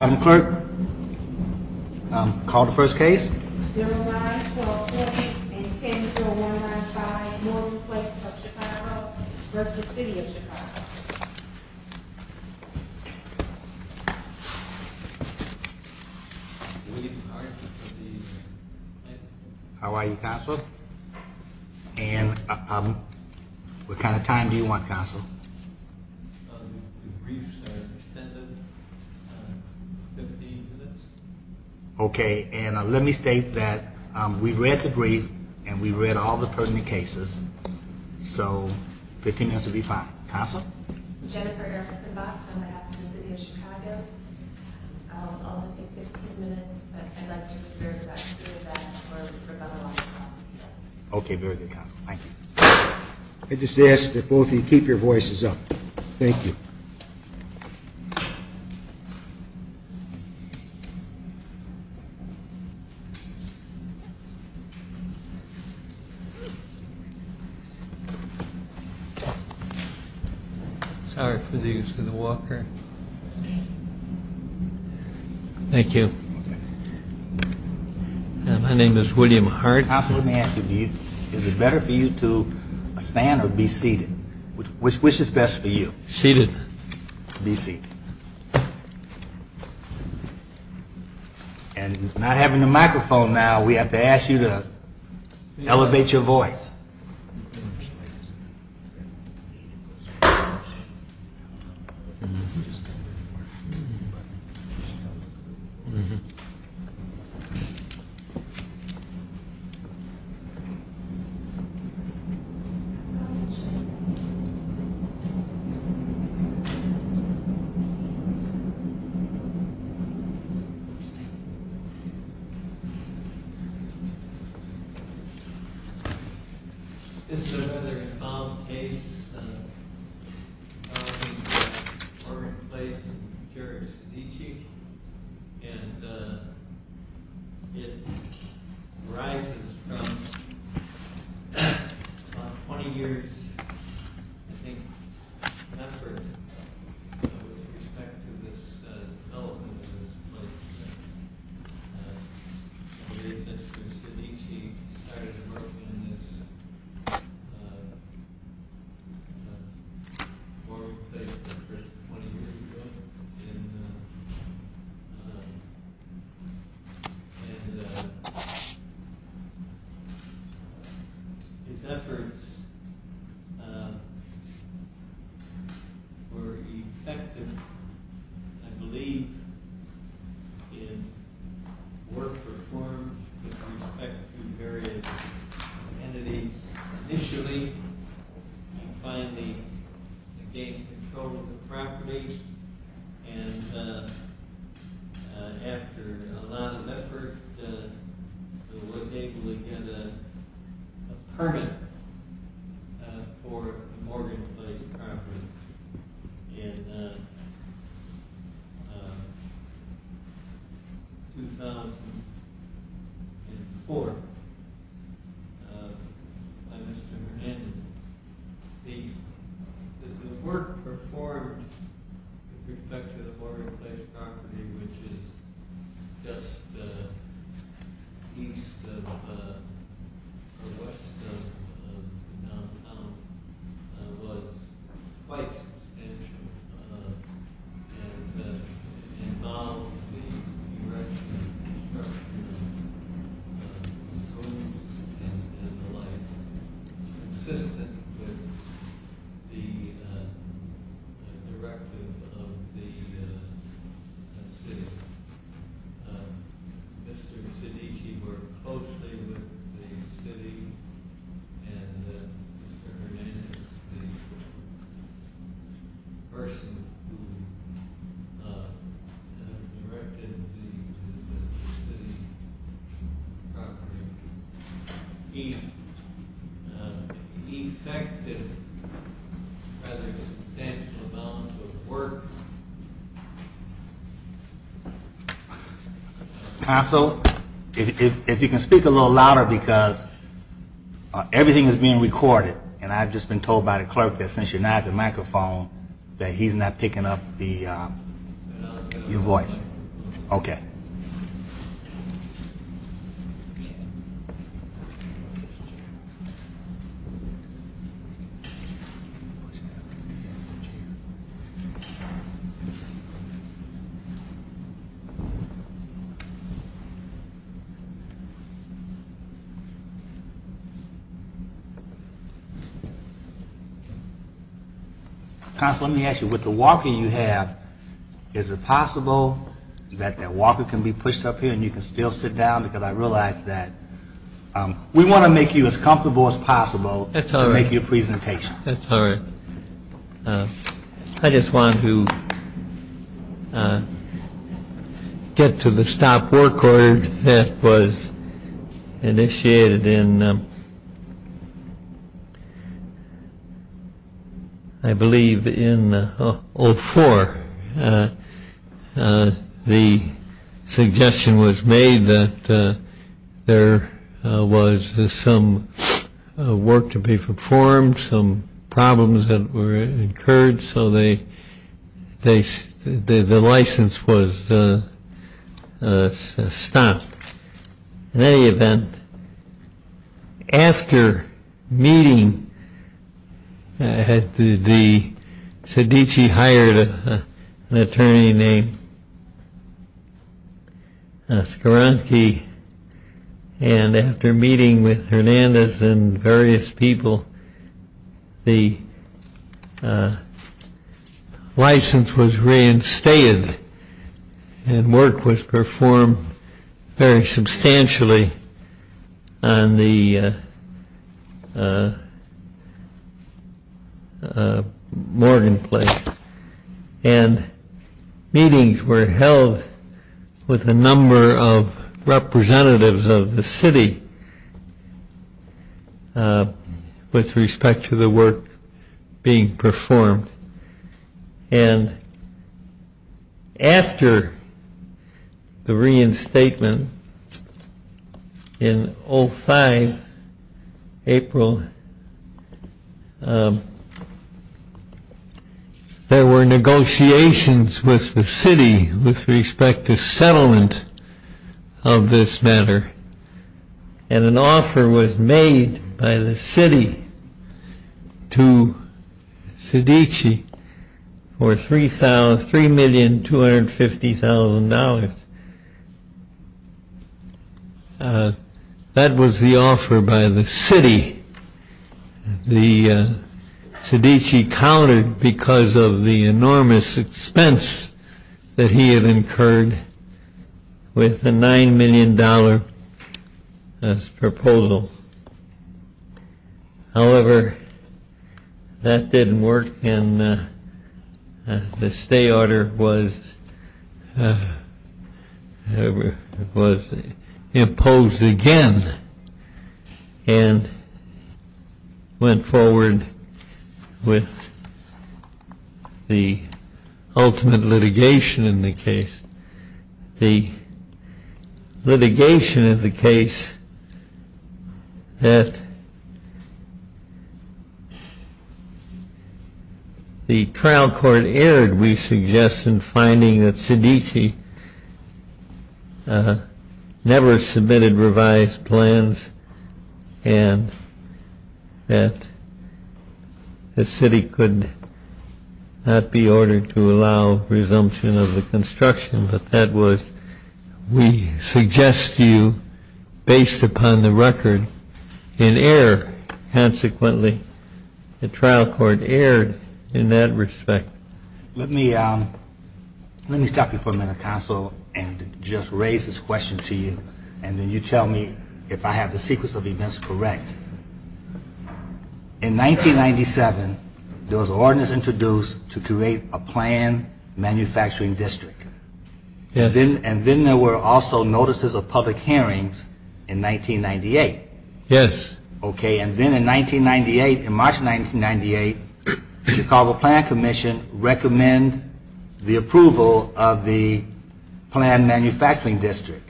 I'm Clark. Call the first case. How are you? And what kind of time do you want? 15 minutes. Okay. And let me state that we read the brief and we read all the pertinent cases. So 15 has to be fine. Council Okay. Very good. Thank you. I just ask that both of you keep your voices up. Thank you. Sorry for the use of the Walker. Thank you. My name is William Hart. Is it better for you to stand or be seated? Which is best for you? Seated. Be seated. And not having a microphone now, we have to ask you to elevate your voice. Mm hmm. It's another involved case in Morgan Place. Is he, and it rising 20 years? Thank you for side. Yeah. Yeah, efforts. Mhm, I believe yeah, work very initially finally property. And after a lot of effort, it was able to get a permit for Morgan. Yeah, yes. Mhm. In forward infection which is East no what like yeah, uh, mhm. Assistant the erecting Yeah, Uh huh. Yeah. and yeah, mmhm, person uh, right? He effective rather work. Council, if you can speak a little louder because everything is being recorded and I've just been told by the clerk that since you're not the microphone that he's not picking up the your voice. Okay. What? Council, let me ask you with the walking you have. Is it possible that that Walker can be pushed up here and you can still sit down? Because I realized that we want to make you as comfortable as possible. That's how I make your presentation. That's all right. I just want to get to the stop work order that was initiated in I believe in old four. Uh, the suggestion was made that there was some work to be performed, some problems that were incurred. So they they the license was stopped. In any event, after meeting at the Siddiqui hired an attorney named Skowronski. And after meeting with Hernandez and various people, the uh, license was reinstated and work was performed very substantially on the uh, Morgan Place. And meetings were held with a number of representatives of the city with respect to the work being performed. And after the reinstatement in 05 April uh, there were negotiations with the city with respect to settlement of this matter. And an offer was made by the city to Siddiqui for $3,000,000,250,000. Uh, that was the offer by the city the uh, Siddiqui counted because of the enormous expense that he had incurred with the $9,000,000,000 as proposal. However, that didn't work and the stay order was uh, was imposed again. And went forward with the ultimate litigation in the case. The litigation of the case that the trial court erred, we suggest, in finding that Siddiqui uh, never submitted revised plans and that the city could not be ordered to allow resumption of the construction, but that was we suggest you based upon the record in error. Consequently, the trial court erred in that respect. Let me uh, let me stop you for a minute, counsel, and just raise this question to you. And then you tell me if I have the sequence of events correct. In 1997, there was ordinance introduced to create a plan manufacturing district. And then there were also notices of public hearings in 1998. Yes. Okay, and then in 1998, in March 1998, the Chicago Plan Commission recommend the approval of the plan manufacturing district.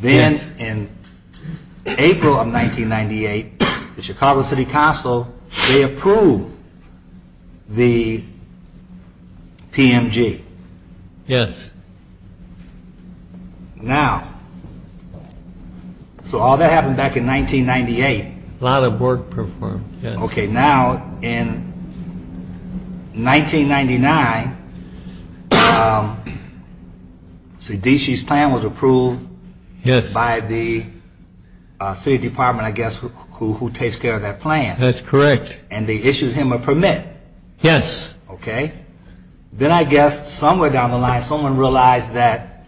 Then in April of 1998, the Chicago City Council, they approved PMG. Yes. Now, so all that happened back in 1998. A lot of work performed. Okay, now in 1999, Siddiqui's plan was approved Yes. by the City Department, I guess, who takes care of that plan. That's correct. And they issued him a permit. Yes. Okay. Then I guess somewhere down the line, someone realized that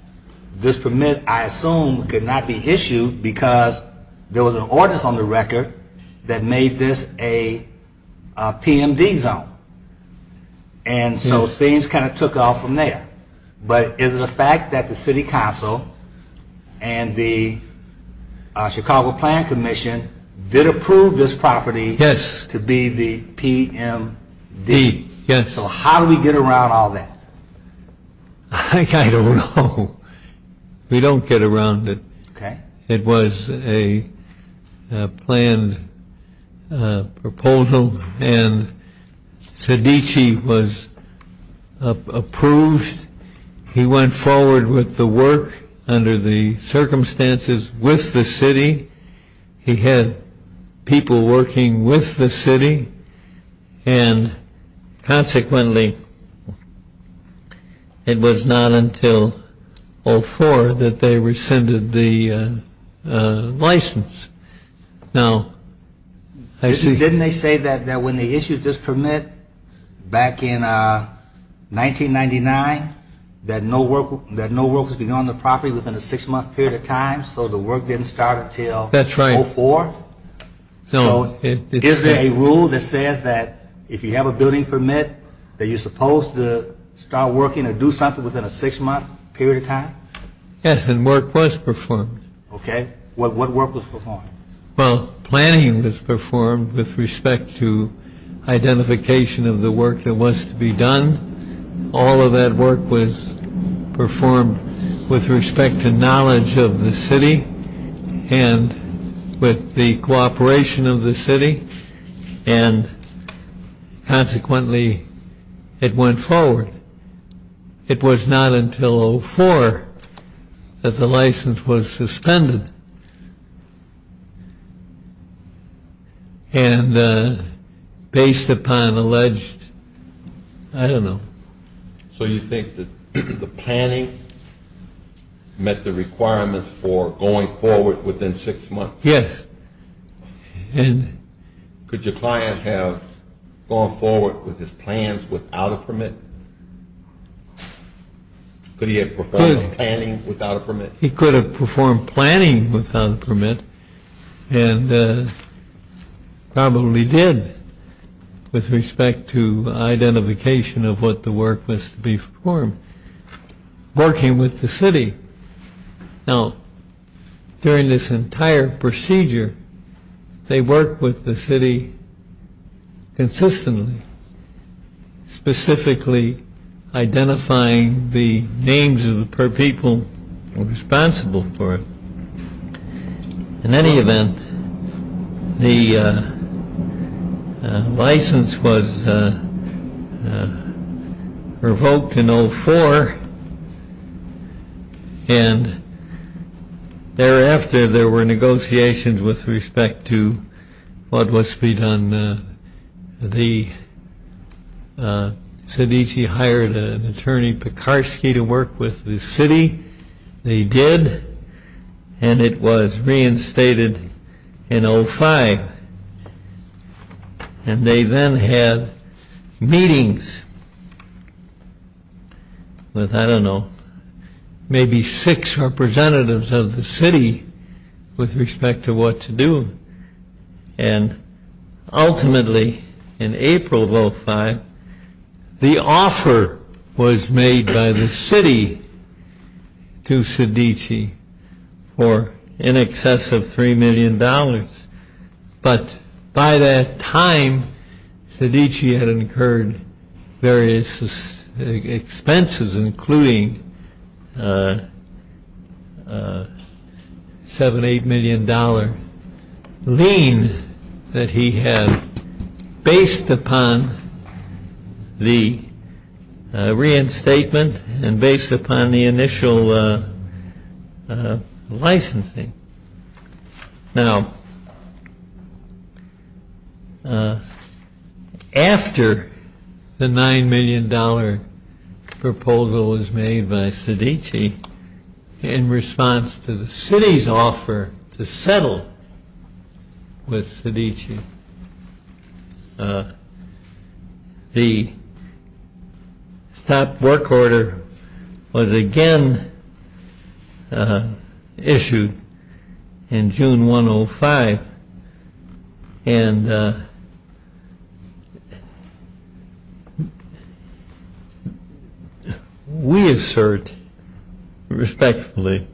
this permit, I assume, could not be issued because there was an ordinance on the record that made this a PMD zone. And so things kind of took off from there. But is it a fact that the City Council and the Chicago Plan Commission did approve this property Yes. to be the PMD? Yes. So how do we get around all that? I don't know. We don't get around it. Okay. It was a planned proposal and Siddiqui was approved. He went forward with the work under the circumstances with the City. He had people working with the City and consequently it was not until 04 that they rescinded the license. Now, I see. Didn't they say that when they issued this permit back in 1999 that no work was begun on the property within a six-month period of time? So the work didn't start until That's right. 04? So is there a rule that says that if you have a building permit that you're supposed to start working or do something within a six-month period of time? Yes, and work was performed. Okay. What work was performed? Well, planning was performed with respect to identification of the work that was to be done. All of that work was performed with respect to knowledge of the City and with the cooperation of the City and consequently it went forward. It was not until 04 that the license was suspended and based upon alleged I don't know. So you think that the planning met the requirements for going forward within six months? Yes. And could your client have gone forward with his plans without a permit? Could he have performed planning without a permit? He could have performed planning without a permit and probably did with respect to identification of what the work was to be performed working with the City. Now during this entire procedure they work with the City consistently specifically identifying the names of the people responsible for it. In any event the license was revoked in 04 and thereafter there were negotiations with respect to what was to be done. The Cedici hired an attorney Pekarsky to work with the City. They did and it was reinstated in 05. And they then had meetings with I don't know maybe six representatives of the City with respect to what to do. And ultimately in April of 05 the offer was made by the City to Cedici for in excess of three million dollars. But by that time Cedici had incurred various expenses including seven eight million dollar lien that he had based upon the reinstatement and based upon the initial licensing. Now after the nine million dollar proposal was made by Cedici in response to the City's offer to settle with Cedici the stop work order was again issued in June 105 and we assert respectfully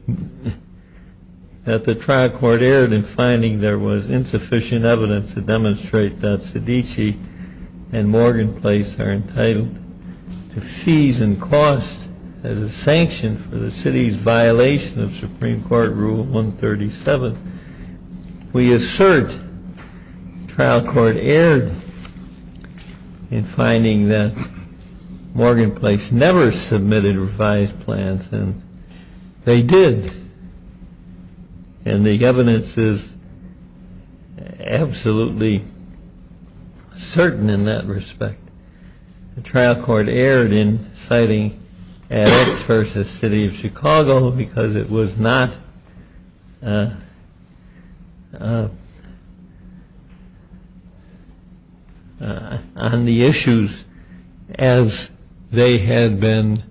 that the trial court erred in finding there was insufficient evidence to demonstrate that Cedici and Morgan Place are entitled to fees and costs as a sanction for the City's violation of Supreme Court Rule 137. We assert trial court erred in finding that Morgan Place never submitted revised plans and they did and the evidence is absolutely certain in that respect. The trial court erred in citing Addis versus City of Chicago because it was not on the issues as they had been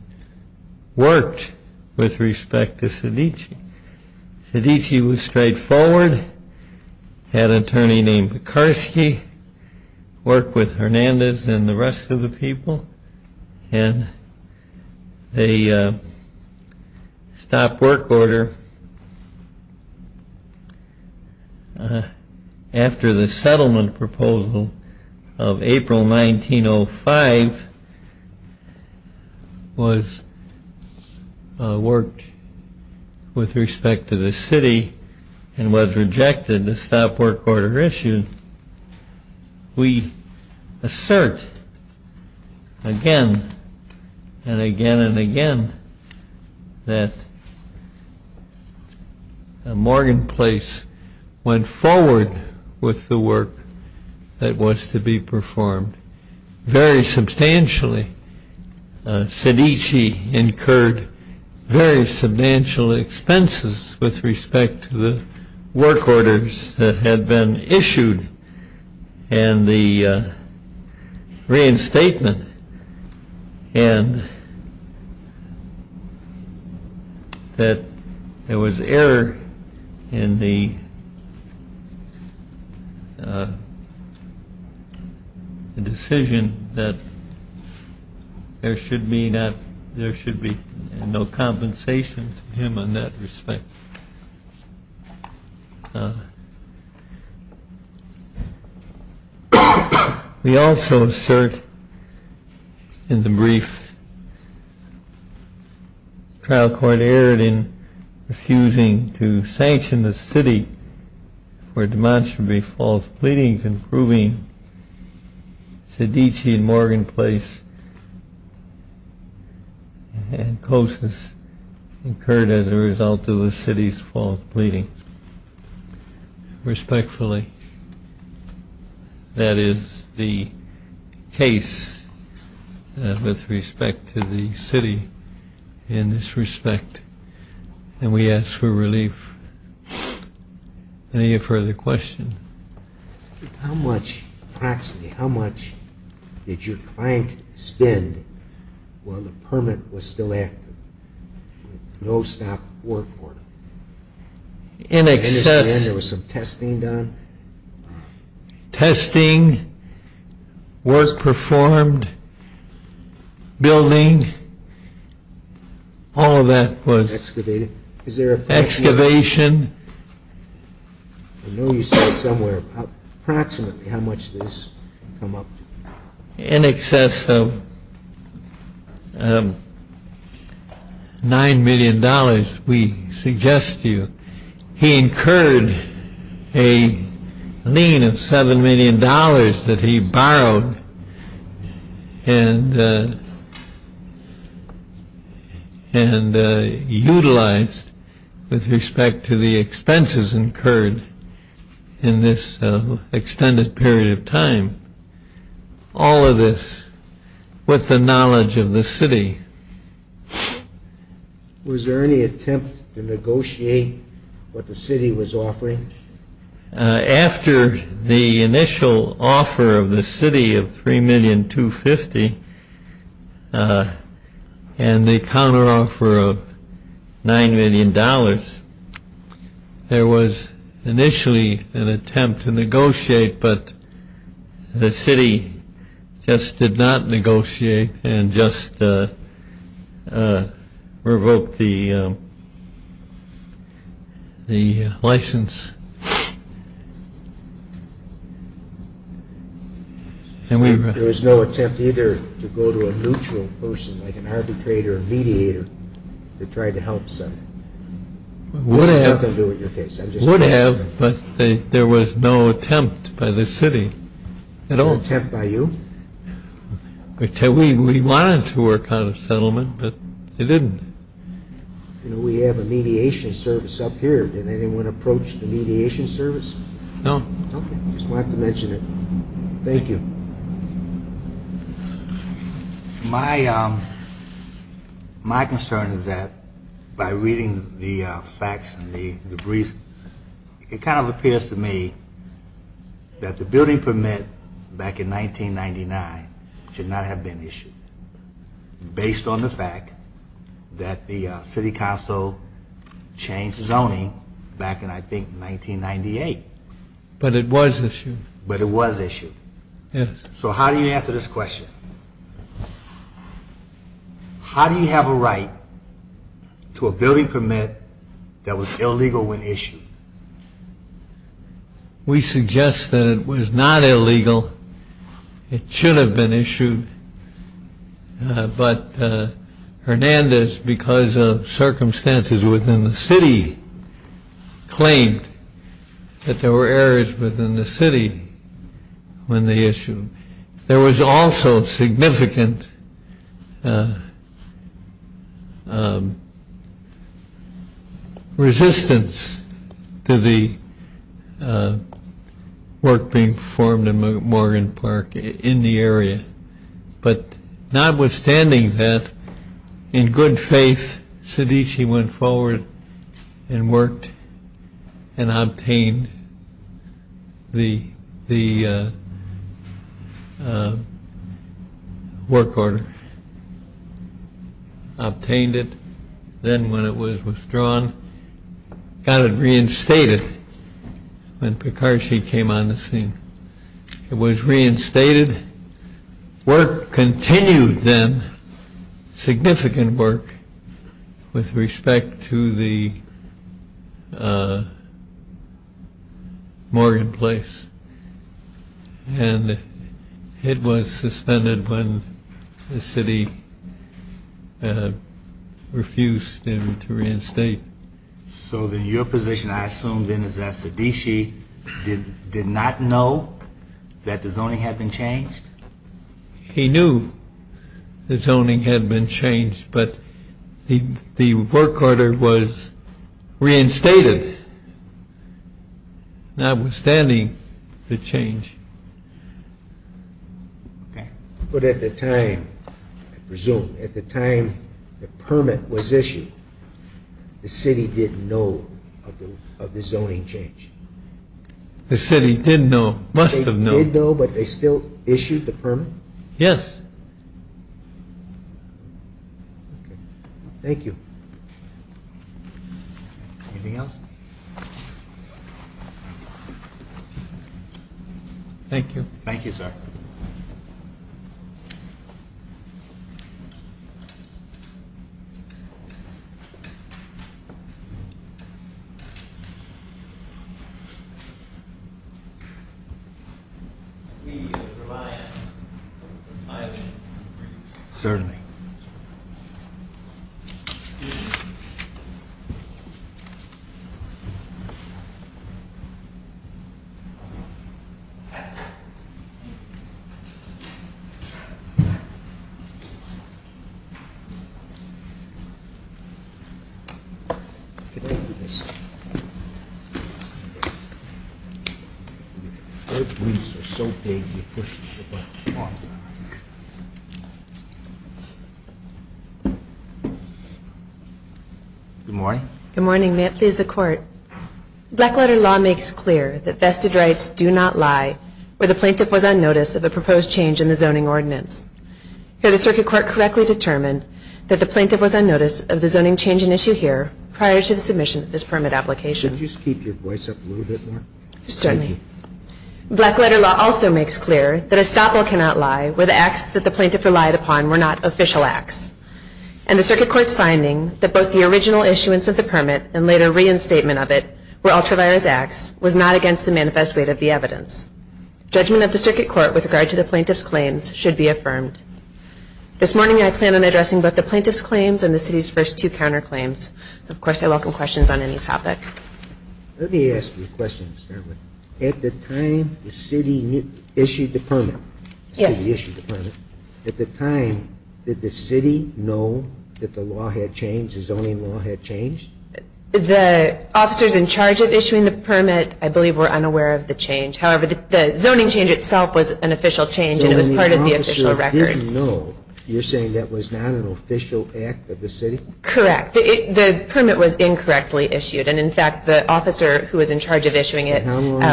worked with respect to Cedici. Cedici was straightforward, had an attorney named Bukarski, worked with Hernandez and the rest of the people and they stopped work order after the second trial court settlement proposal of April 1905 was worked with respect to the City and was rejected the stop work order issued. We assert again and again and again that Morgan Place went forward with the work that was to be performed very substantially. Cedici incurred very substantial expenses with respect to the work orders that had been issued and the reinstatement and that there was error in the uh decision that there should be not, there should be no compensation to him on that respect. We also assert in the brief trial court erred in refusing to sanction the city for demonstrably false pleadings and proving Cedici and Morgan Place and Cosas incurred as a result of the city's false pleadings respectfully. That is the case with respect to the city in this respect and we ask for relief Any further questions? How much, approximately how much did your client spend while the permit was still active? No stop work order? In excess, there was some testing done? Testing was performed building all of that was, excavated, is there, excavation I know you said somewhere, approximately how much did this come up to? In excess of nine million dollars, we suggest to you he incurred a lien of seven million dollars that he borrowed and and utilized with respect to the expenses incurred in this extended period of time all of this with the knowledge of the city Was there any attempt to negotiate what the city was offering? After the initial offer of the city of three million two fifty and the counter offer of nine million dollars there was initially an attempt to negotiate but the city just did not negotiate and just revoked the the license There was no attempt either to go to a neutral person like an arbitrator or mediator to try to help settle? Would have Would have but there was no attempt by the city No attempt by you? We wanted to work on a settlement but they didn't You know we have a mediation service up here, did anyone approach the mediation service? No Okay, just wanted to mention it Thank you My my concern is that by reading the facts and the reason it kind of appears to me that the building permit back in 1999 should not have been issued based on the fact that the City Council changed zoning back in I think 1998 But it was issued But it was issued Yes So how do you answer this question? How do you have a right to a building permit that was illegal when issued? We suggest that it was not illegal It should have been issued but Hernandez because of circumstances within the city claimed that there were errors within the city when they issued There was also significant resistance to the work being performed in Morgan Park in the area But notwithstanding that in good faith Cedici went forward and worked and obtained the the work order obtained it then when it was withdrawn got it reinstated when Pekarsky came on the scene It was reinstated Work continued then significant work with respect to the Morgan Place and it was suspended when the city uh refused him to reinstate So then your position I assume then is that Cedici did not know that the zoning had been changed? He knew the zoning had been changed but the work order was reinstated notwithstanding the change But at the time I presume at the time the permit was issued the city didn't know of the zoning change The city didn't know, must have known They didn't know but they still issued the permit? Yes Thank you Anything else? Thank you Thank you sir Thank you Certainly Thank you Good morning Good morning, may it please the court Blackwater law makes clear that vested rights do not lie Should the circuit court correctly determine that the plaintiff was on notice of the zoning change in issue here prior to the submission of this permit application Could you just keep your voice up a little bit more? Certainly Blackwater law also makes clear that a stopper cannot lie where the acts that the plaintiff relied upon were not official acts And the circuit court's finding that both the original issuance of the permit and later reinstatement of it were ultra-virus acts was not against the manifest weight of the evidence Judgment of the circuit court with regard to the plaintiff's claims should be affirmed This morning I plan on addressing both the plaintiff's claims and the city's first two counterclaims Of course I welcome questions on any topic Let me ask you a question to start with At the time the city issued the permit Yes At the time did the city know that the law had changed the zoning law had changed? The officers in charge of issuing the permit I believe were unaware of the change However, the zoning change itself was an official change and it was part of the official record You know, you're saying that was not an official act of the city? Correct The permit was incorrectly issued and in fact the officer who was in charge of issuing it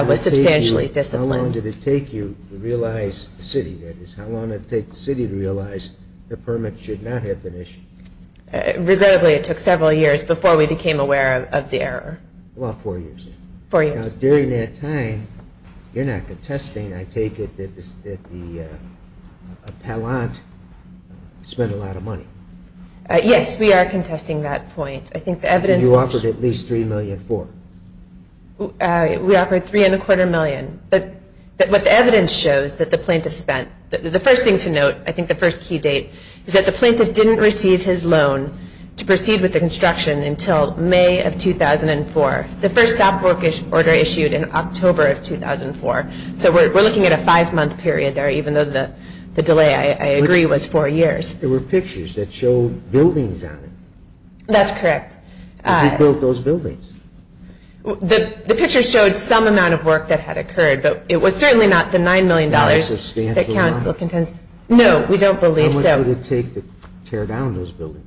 was substantially disciplined How long did it take you to realize, the city that is how long did it take the city to realize the permit should not have been issued? Regrettably it took several years before we became aware of the error About four years Four years Now during that time you're not contesting, I take it that the appellant spent a lot of money Yes, we are contesting that point I think the evidence You offered at least three million for We offered three and a quarter million but what the evidence shows that the plaintiff spent the first thing to note I think the first key date is that the plaintiff didn't receive his loan to proceed with the construction until May of 2004 The first stop order issued in October of 2004 So we're looking at a five month period there even though the delay, I agree, was four years There were pictures that showed buildings on it That's correct And who built those buildings? The pictures showed some amount of work that had occurred but it was certainly not the nine million dollars Not a substantial amount No, we don't believe so How much would it take to tear down those buildings?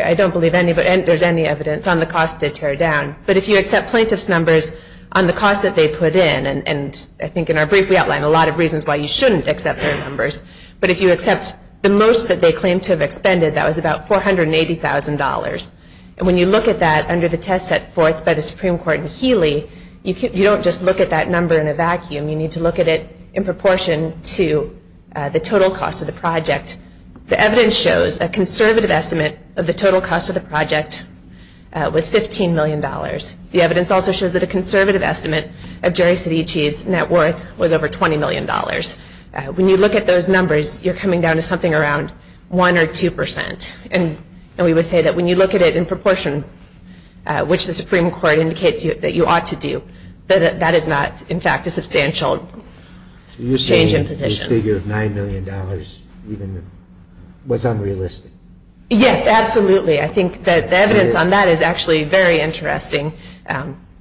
I don't believe any but there's any evidence on the cost to tear down But if you accept plaintiff's numbers on the cost that they put in and I think in our brief we outline a lot of reasons why you shouldn't accept their numbers but if you accept the most that they claim to have expended that was about $480,000 And when you look at that under the test set forth by the Supreme Court in Healy you don't just look at that number in a vacuum you need to look at it in proportion to the total cost of the project The evidence shows a conservative estimate of the total cost of the project was 15 million dollars The evidence also shows that a conservative estimate of Jerry Cedici's net worth was over 20 million dollars When you look at those numbers you're coming down to something around one or two percent and we would say that when you look at it in proportion which the Supreme Court indicates that you ought to do that is not, in fact, a substantial change in position So you're saying the figure of nine million dollars was unrealistic Yes, absolutely I think that the evidence on that is actually very interesting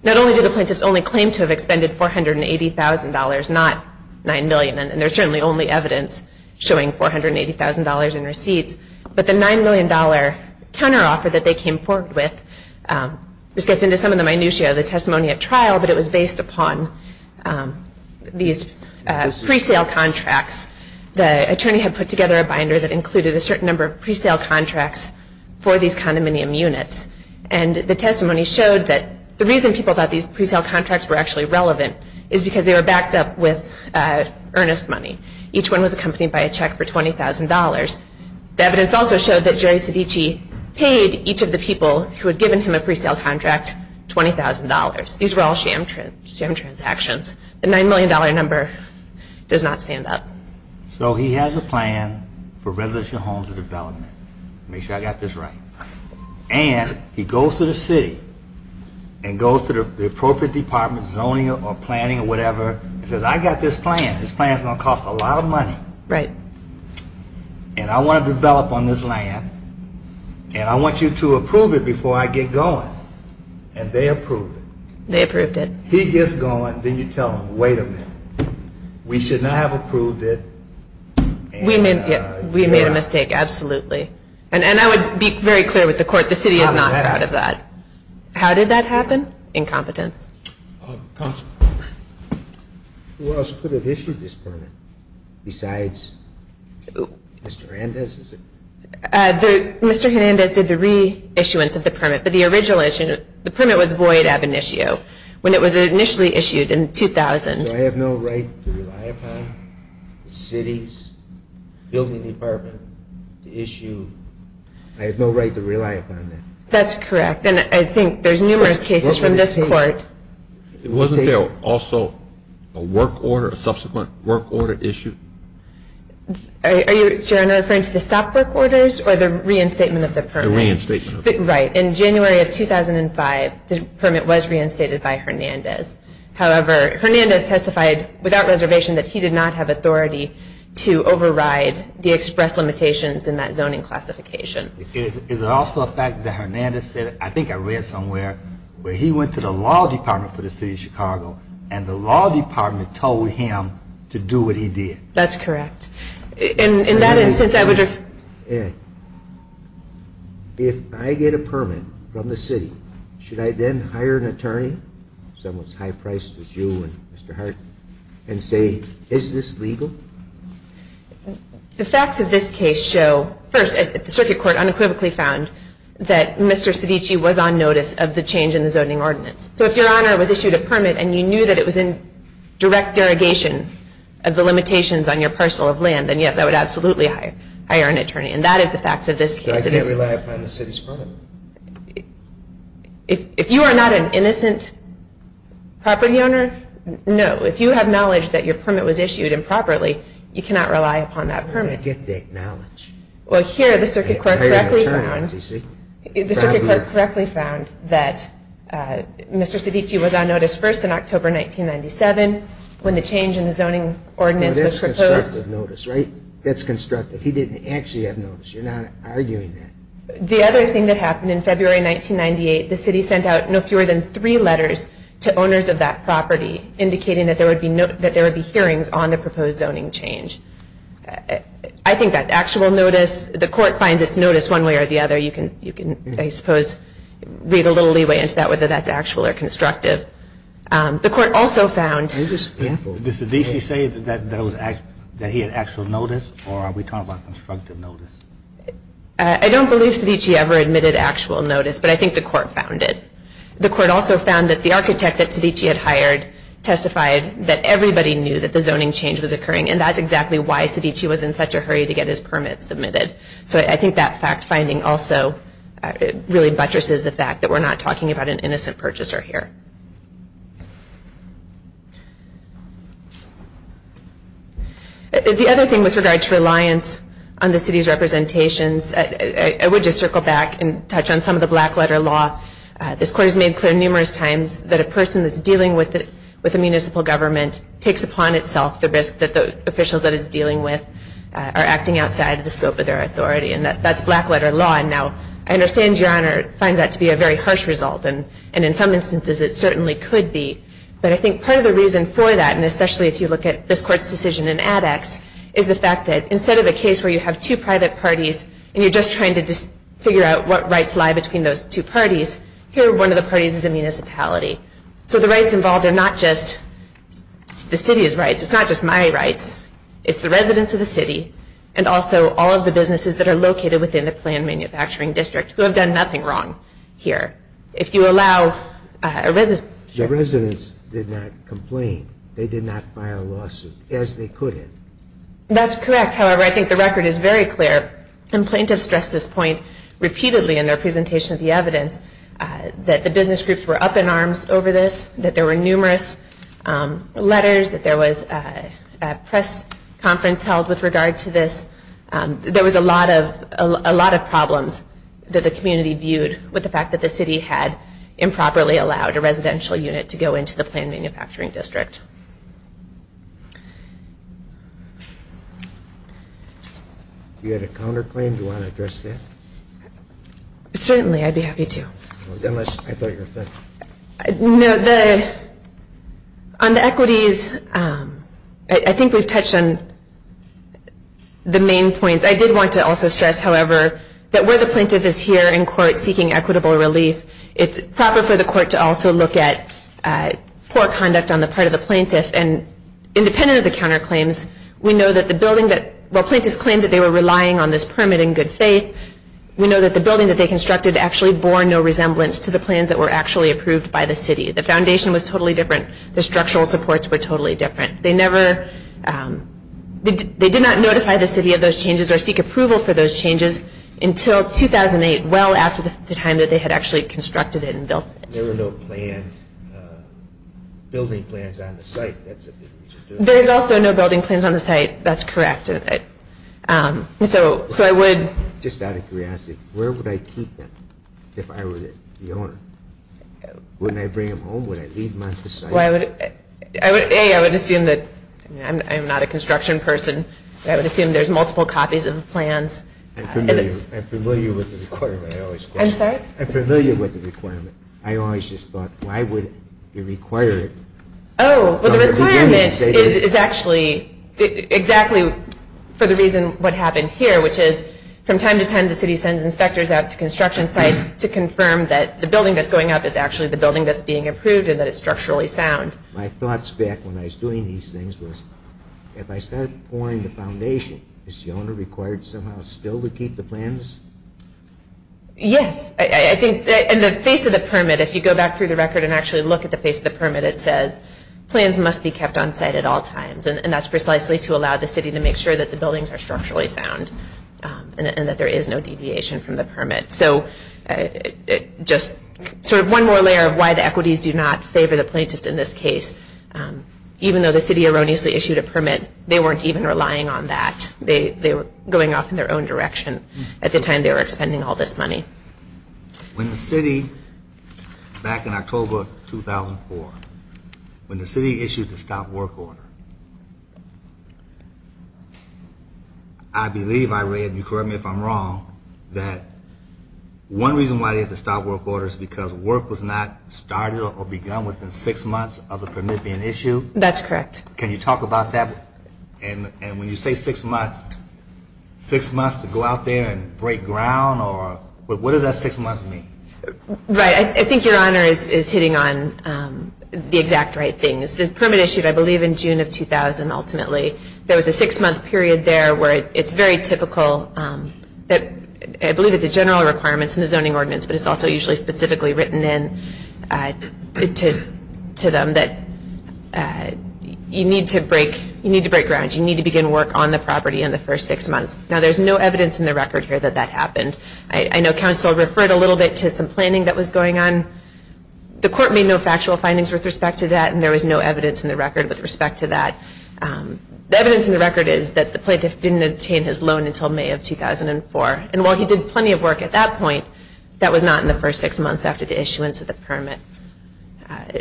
Not only do the plaintiffs only claim to have expended $480,000, not nine million and there's certainly only evidence showing $480,000 in receipts but the nine million dollar counteroffer that they came forward with this gets into some of the minutia of the testimony at trial but it was based upon these pre-sale contracts The attorney had put together a binder that included a certain number of pre-sale contracts for these condominium units and the testimony showed that the reason people thought these pre-sale contracts were actually relevant is because they were backed up with earnest money Each one was accompanied by a check for $20,000 The evidence also showed that Jerry Cedici paid each of the people who had given him a pre-sale contract $20,000 These were all sham transactions The nine million dollar number does not stand up So he has a plan for residential homes and development Make sure I got this right and he goes to the city and goes to the appropriate department zoning or planning or whatever and says I got this plan this plan is going to cost a lot of money Right and I want to develop on this land and I want you to approve it before I get going and they approved it They approved it He gets going then you tell him wait a minute we should not have approved it We made a mistake, absolutely and I would be very clear with the court the city is not proud of that How did that happen? Incompetence Counselor Who else could have issued this permit? Besides Mr. Hernandez, is it? Mr. Hernandez did the re-issuance of the permit but the original issue the permit was void ab initio when it was initially issued in 2000 Do I have no right to rely upon the city's building department issue I have no right to rely upon that That's correct and I think there's numerous cases from this court Wasn't there also a work order a subsequent work order issued? Are you referring to the stop work orders or the reinstatement of the permit? The reinstatement Right In January of 2005 the permit was reinstated by Hernandez However, Hernandez testified without reservation that he did not have authority to override the express limitations in that zoning classification Is it also a fact that Hernandez said I think I read somewhere where he went to the law department for the city of Chicago and the law department told him to do what he did? That's correct In that instance, I would have If I get a permit from the city should I then hire an attorney someone as high priced as you and Mr. Hart and say is this legal? The facts of this case show first, the circuit court unequivocally found that Mr. Cedici was on notice of the change in the zoning ordinance So if your honor was issued a permit and you knew that it was in direct derogation of the limitations on your parcel of land then yes, I would absolutely hire hire an attorney and that is the facts of this case I can't rely upon the city's permit If you are not an innocent property owner no, if you have knowledge that your permit was issued improperly you cannot rely upon that permit You can't get that knowledge Well here, the circuit court correctly found the circuit court correctly found that Mr. Cedici was on notice first in October 1997 when the change in the zoning ordinance was proposed That's constructive notice, right? That's constructive He didn't actually have notice You're not arguing that The other thing that happened in February 1998 the city sent out no fewer than three letters to owners of that property indicating that there would be that there would be hearings on the proposed zoning change I think that's actual notice The court finds its notice one way or the other You can, I suppose read a little leeway into that whether that's actual or constructive The court also found Did Cedici say that he had actual notice or are we talking about constructive notice? I don't believe Cedici ever admitted actual notice but I think the court found it The court also found that the architect that Cedici had hired testified that everybody knew that the zoning change was occurring and that's exactly why Cedici was in such a hurry to get his permit submitted So I think that fact finding also really buttresses the fact that we're not talking about an innocent purchaser here The other thing with regard to reliance on the city's representations I would just circle back and touch on some of the black letter law This court has made clear numerous times that a person that's dealing with with a municipal government takes upon itself the risk that the officials that it's dealing with are acting outside of the scope of their authority and that's black letter law and now I understand your honor finds that to be a very harsh result and in some instances it certainly could be But I think part of the reason for that and especially if you look at this court's decision in ADEX is the fact that instead of a case where you have two private parties and you're just trying to figure out what rights lie between those two parties here one of the parties is a municipality So the rights involved are not just the city's rights It's not just my rights It's the residents of the city and also all of the businesses that are located within the planned manufacturing district who have done nothing wrong here If you allow The residents did not complain They did not file a lawsuit as they could have That's correct However, I think the record is very clear Complaintants stress this point repeatedly in their presentation of the evidence that the business groups were up in arms over this that there were numerous letters that there was a press conference held with regard to this There was a lot of a lot of problems that the community viewed with the fact that the city had improperly allowed a residential unit to go into the planned manufacturing district You had a counterclaim Do you want to address that? Certainly, I'd be happy to Unless I thought you were offended No, the On the equities I think we've touched on the main points I did want to also stress, however that where the plaintiff is here in court seeking equitable relief it's proper for the court to also look at poor conduct on the part of the plaintiff and independent of the counterclaims we know that the building that while plaintiffs claimed that they were relying on this permit in good faith we know that the building that they constructed actually bore no resemblance to the plans that were actually approved by the city The foundation was totally different The structural supports were totally different They never They did not notify the city of those changes or seek approval for those changes until 2008 well after the time that they had actually constructed it and built it There were no planned building plans on the site That's a big reason to ask There's also no building plans on the site That's correct So I would Just out of curiosity where would I keep them if I were the owner? Wouldn't I bring them home? Would I leave them on the site? Well I would A. I would assume that I'm not a construction person I would assume there's multiple copies of the plans I'm familiar I'm familiar with the requirement I always question I'm sorry? I'm familiar with the requirement I always just thought why would you require it Oh Well the requirement is actually exactly for the reason what happened here which is from time to time the city sends inspectors out to construction sites to confirm that the building that's going up is actually the building that's being approved and that it's structurally sound My thoughts back when I was doing these things was if I start pouring the foundation is the owner required somehow still to keep the plans? Yes I think in the face of the permit if you go back through the record and actually look at the face of the permit it says plans must be kept on site at all times and that's precisely to allow the city to make sure that the buildings are structurally sound and that there is no deviation from the permit So just sort of one more layer of why the equities do not favor the plaintiffs in this case even though the city erroneously issued a permit they weren't even relying on that they were going off in their own direction at the time they were expending all this money When the city back in October of 2004 when the city issued the stop work order I believe I read you correct me if I'm wrong that one reason why they had to stop work order is because work was not started or begun within six months of the permit being issued That's correct Can you talk about that? And when you say six months six months to go out there and break ground or what does that six months mean? Right I think your honor is hitting on the exact right things This permit issued I believe in June of 2000 ultimately there was a six month period there where it's very typical that I believe it's a general requirement in the zoning ordinance but it's also usually specifically written in to them that you need to break you need to break ground you need to begin work on the property in the first six months Now there's no evidence in the record here that that happened I know counsel referred a little bit to some planning that was going on The court made no factual findings with respect to that and there was no evidence in the record with respect to that The evidence in the record is that the plaintiff didn't obtain his loan until May of 2004 and while he did plenty of work at that point that was not in the first six months after the issuance of the permit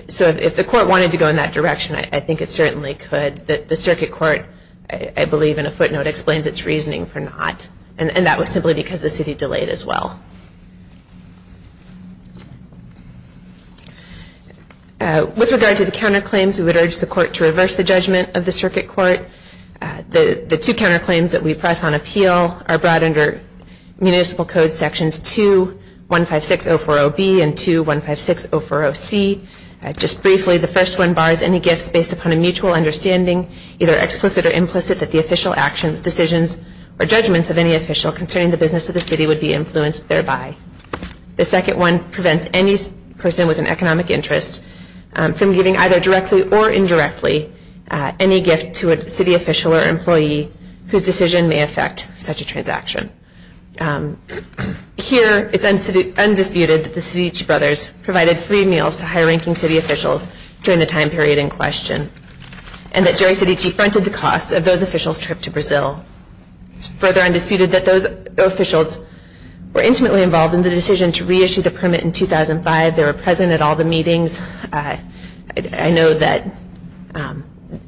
So if the court wanted to go in that direction I think it certainly could The circuit court I believe in a footnote explains its reasoning for not and that was simply because the city delayed as well With regard to the counterclaims we would urge the court to reverse the judgment of the circuit court The two counterclaims that we press on appeal are brought under Municipal Code Sections 2-156-040B and 2-156-040C Just briefly, the first one bars any gifts based upon a mutual understanding either explicit or implicit that the official actions, decisions or judgments of any official concerning the business of the city would be influenced thereby The second one prevents any person with an economic interest from giving either directly or indirectly any gift to a city official or employee whose decision may affect such a transaction Here, it's undisputed that the Cedici brothers provided free meals to high-ranking city officials during the time period in question and that Jerry Cedici fronted the costs of those officials' trip to Brazil It's further undisputed that those officials were intimately involved in the decision to reissue the permit in 2005 They were present at all the meetings I know that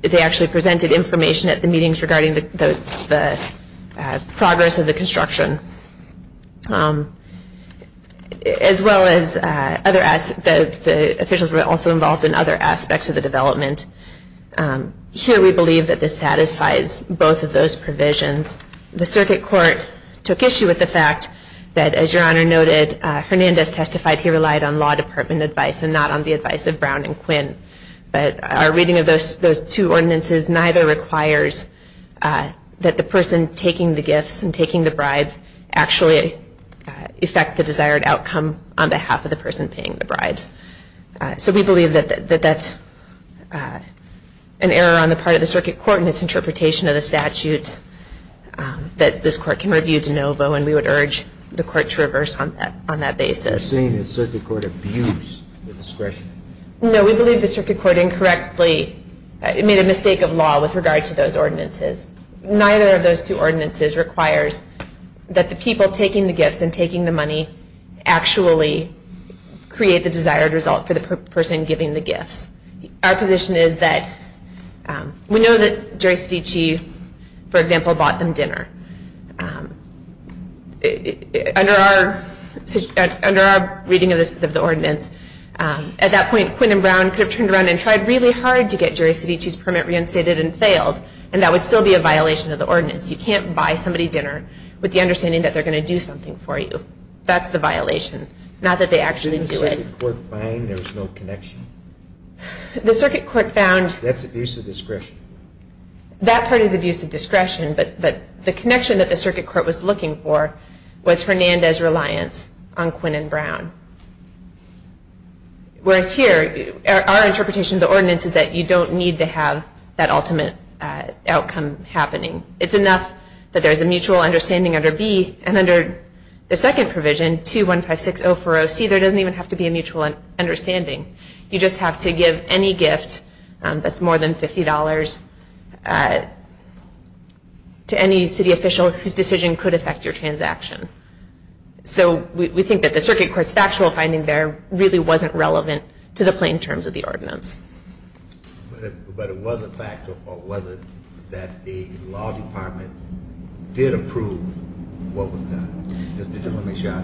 they actually presented information at the meetings regarding the progress of the construction as well as the officials were also involved in other aspects of the development Here, we believe that this satisfies both of those provisions The Circuit Court took issue with the fact that, as Your Honor noted, Hernandez testified he relied on law department advice and not on the advice of Brown and Quinn But our reading of those two ordinances neither requires that the person taking the gifts and taking the bribes actually affect the desired outcome on behalf of the person paying the bribes So we believe that that's an error on the part of the Circuit Court in its interpretation of the statutes that this Court can review de novo and we would urge the Court to reverse on that basis You're saying the Circuit Court abused the discretion? No, we believe the Circuit Court incorrectly made a mistake of law with regard to those ordinances Neither of those two ordinances requires that the people taking the gifts and taking the money actually create the desired result for the person giving the gifts Our position is that we know that Jerry Sedici for example, bought them dinner Under our under our reading of the ordinance at that point, Quinn and Brown could have turned around and tried really hard to get Jerry Sedici's permit reinstated and failed and that would still be a violation of the ordinance You can't buy somebody dinner with the understanding that they're going to do something for you That's the violation Not that they actually do it Didn't the Circuit Court find there was no connection? The Circuit Court found That's abuse of discretion That part is abuse of discretion but the connection that the Circuit Court was looking for was Hernandez's reliance on Quinn and Brown Whereas here our interpretation of the ordinance is that you don't need to have that ultimate outcome happening It's enough that there's a mutual understanding under B and under the second provision 2156040C there doesn't even have to be a mutual understanding You just have to give any gift that's more than $50 to any city official whose decision could affect your transaction So we think that the Circuit Court's factual finding there really wasn't relevant to the plain terms of the ordinance But it was a fact or was it that the law department did approve what was done?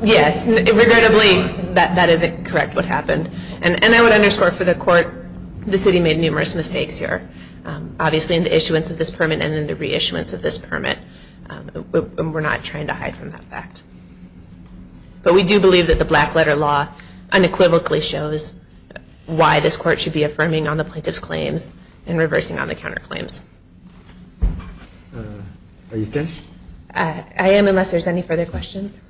Yes Regrettably that isn't correct what happened And I would underscore for the court the city made numerous mistakes here Obviously in the issuance of this permit and in the reissuance of this permit We're not trying to hide from that fact But we do believe that the black letter law unequivocally shows why this court should be affirming on the plaintiff's claims and reversing on the counterclaims Uh Are you finished? I am unless there's any further questions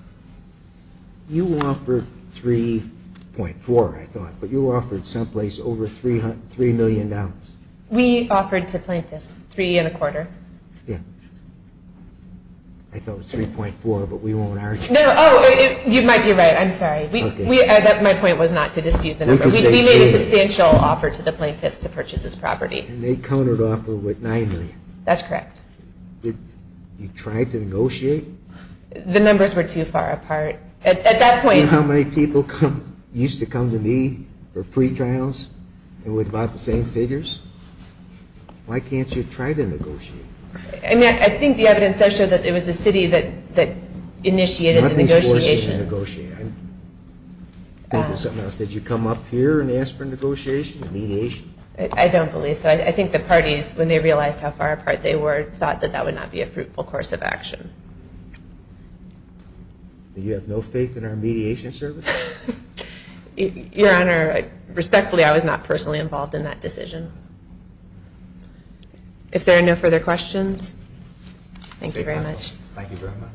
You offered 3.4 I thought but you offered someplace over 300 3 million dollars We offered to plaintiffs 3 and a quarter Yeah I thought it was 3.4 but we won't argue No no oh You might be right I'm sorry We My point was not to dispute the number We made a substantial offer to the plaintiffs to purchase this property And they countered offer with 9 million That's correct You tried to negotiate The numbers were too far apart At that point Do you know how many people come used to come to me for pre-trials and with about the same figures Why can't you try to negotiate? I mean I think the evidence does show that it was the city that that initiated the negotiations Not this court should negotiate I'm thinking something else Did you come up here and ask for negotiation and mediation? I don't believe so I think the parties when they realized how far apart they were thought that that would not be a fruitful course of action You have no faith in our mediation service? Your Honor Respectfully I was not personally involved in that decision If there are no further questions Thank you very much Thank you very much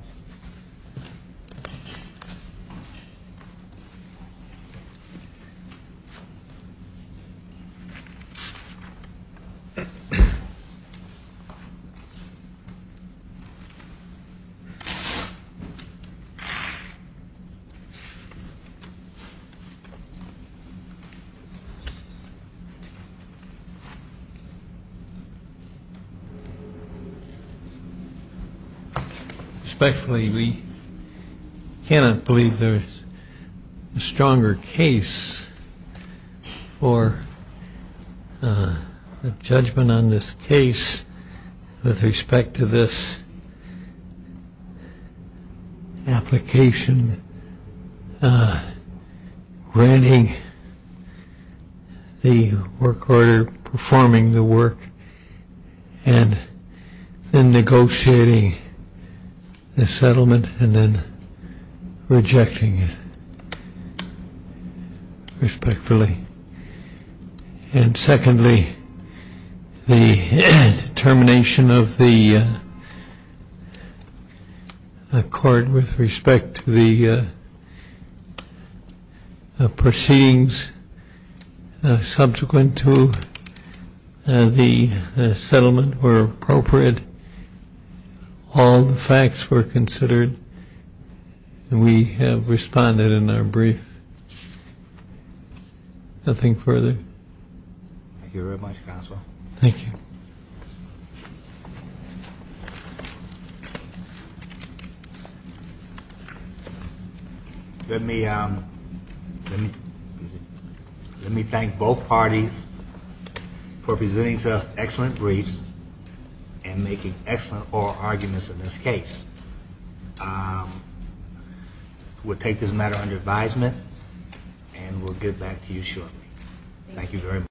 Hmm Respectfully we cannot believe there is a stronger case for a judgment on this case with respect to this application granting the work order performing the work and then negotiating the settlement and then rejecting it Respectfully and secondly the determination of the court with respect to the proceedings subsequent to the settlement were appropriate all the facts were considered and we have responded in our brief Nothing further? Thank you very much Counselor Thank you Let me Let me thank both parties for presenting to us excellent briefs and making excellent oral arguments in this case We'll take this matter under advisement and we'll get back to you shortly Thank you very much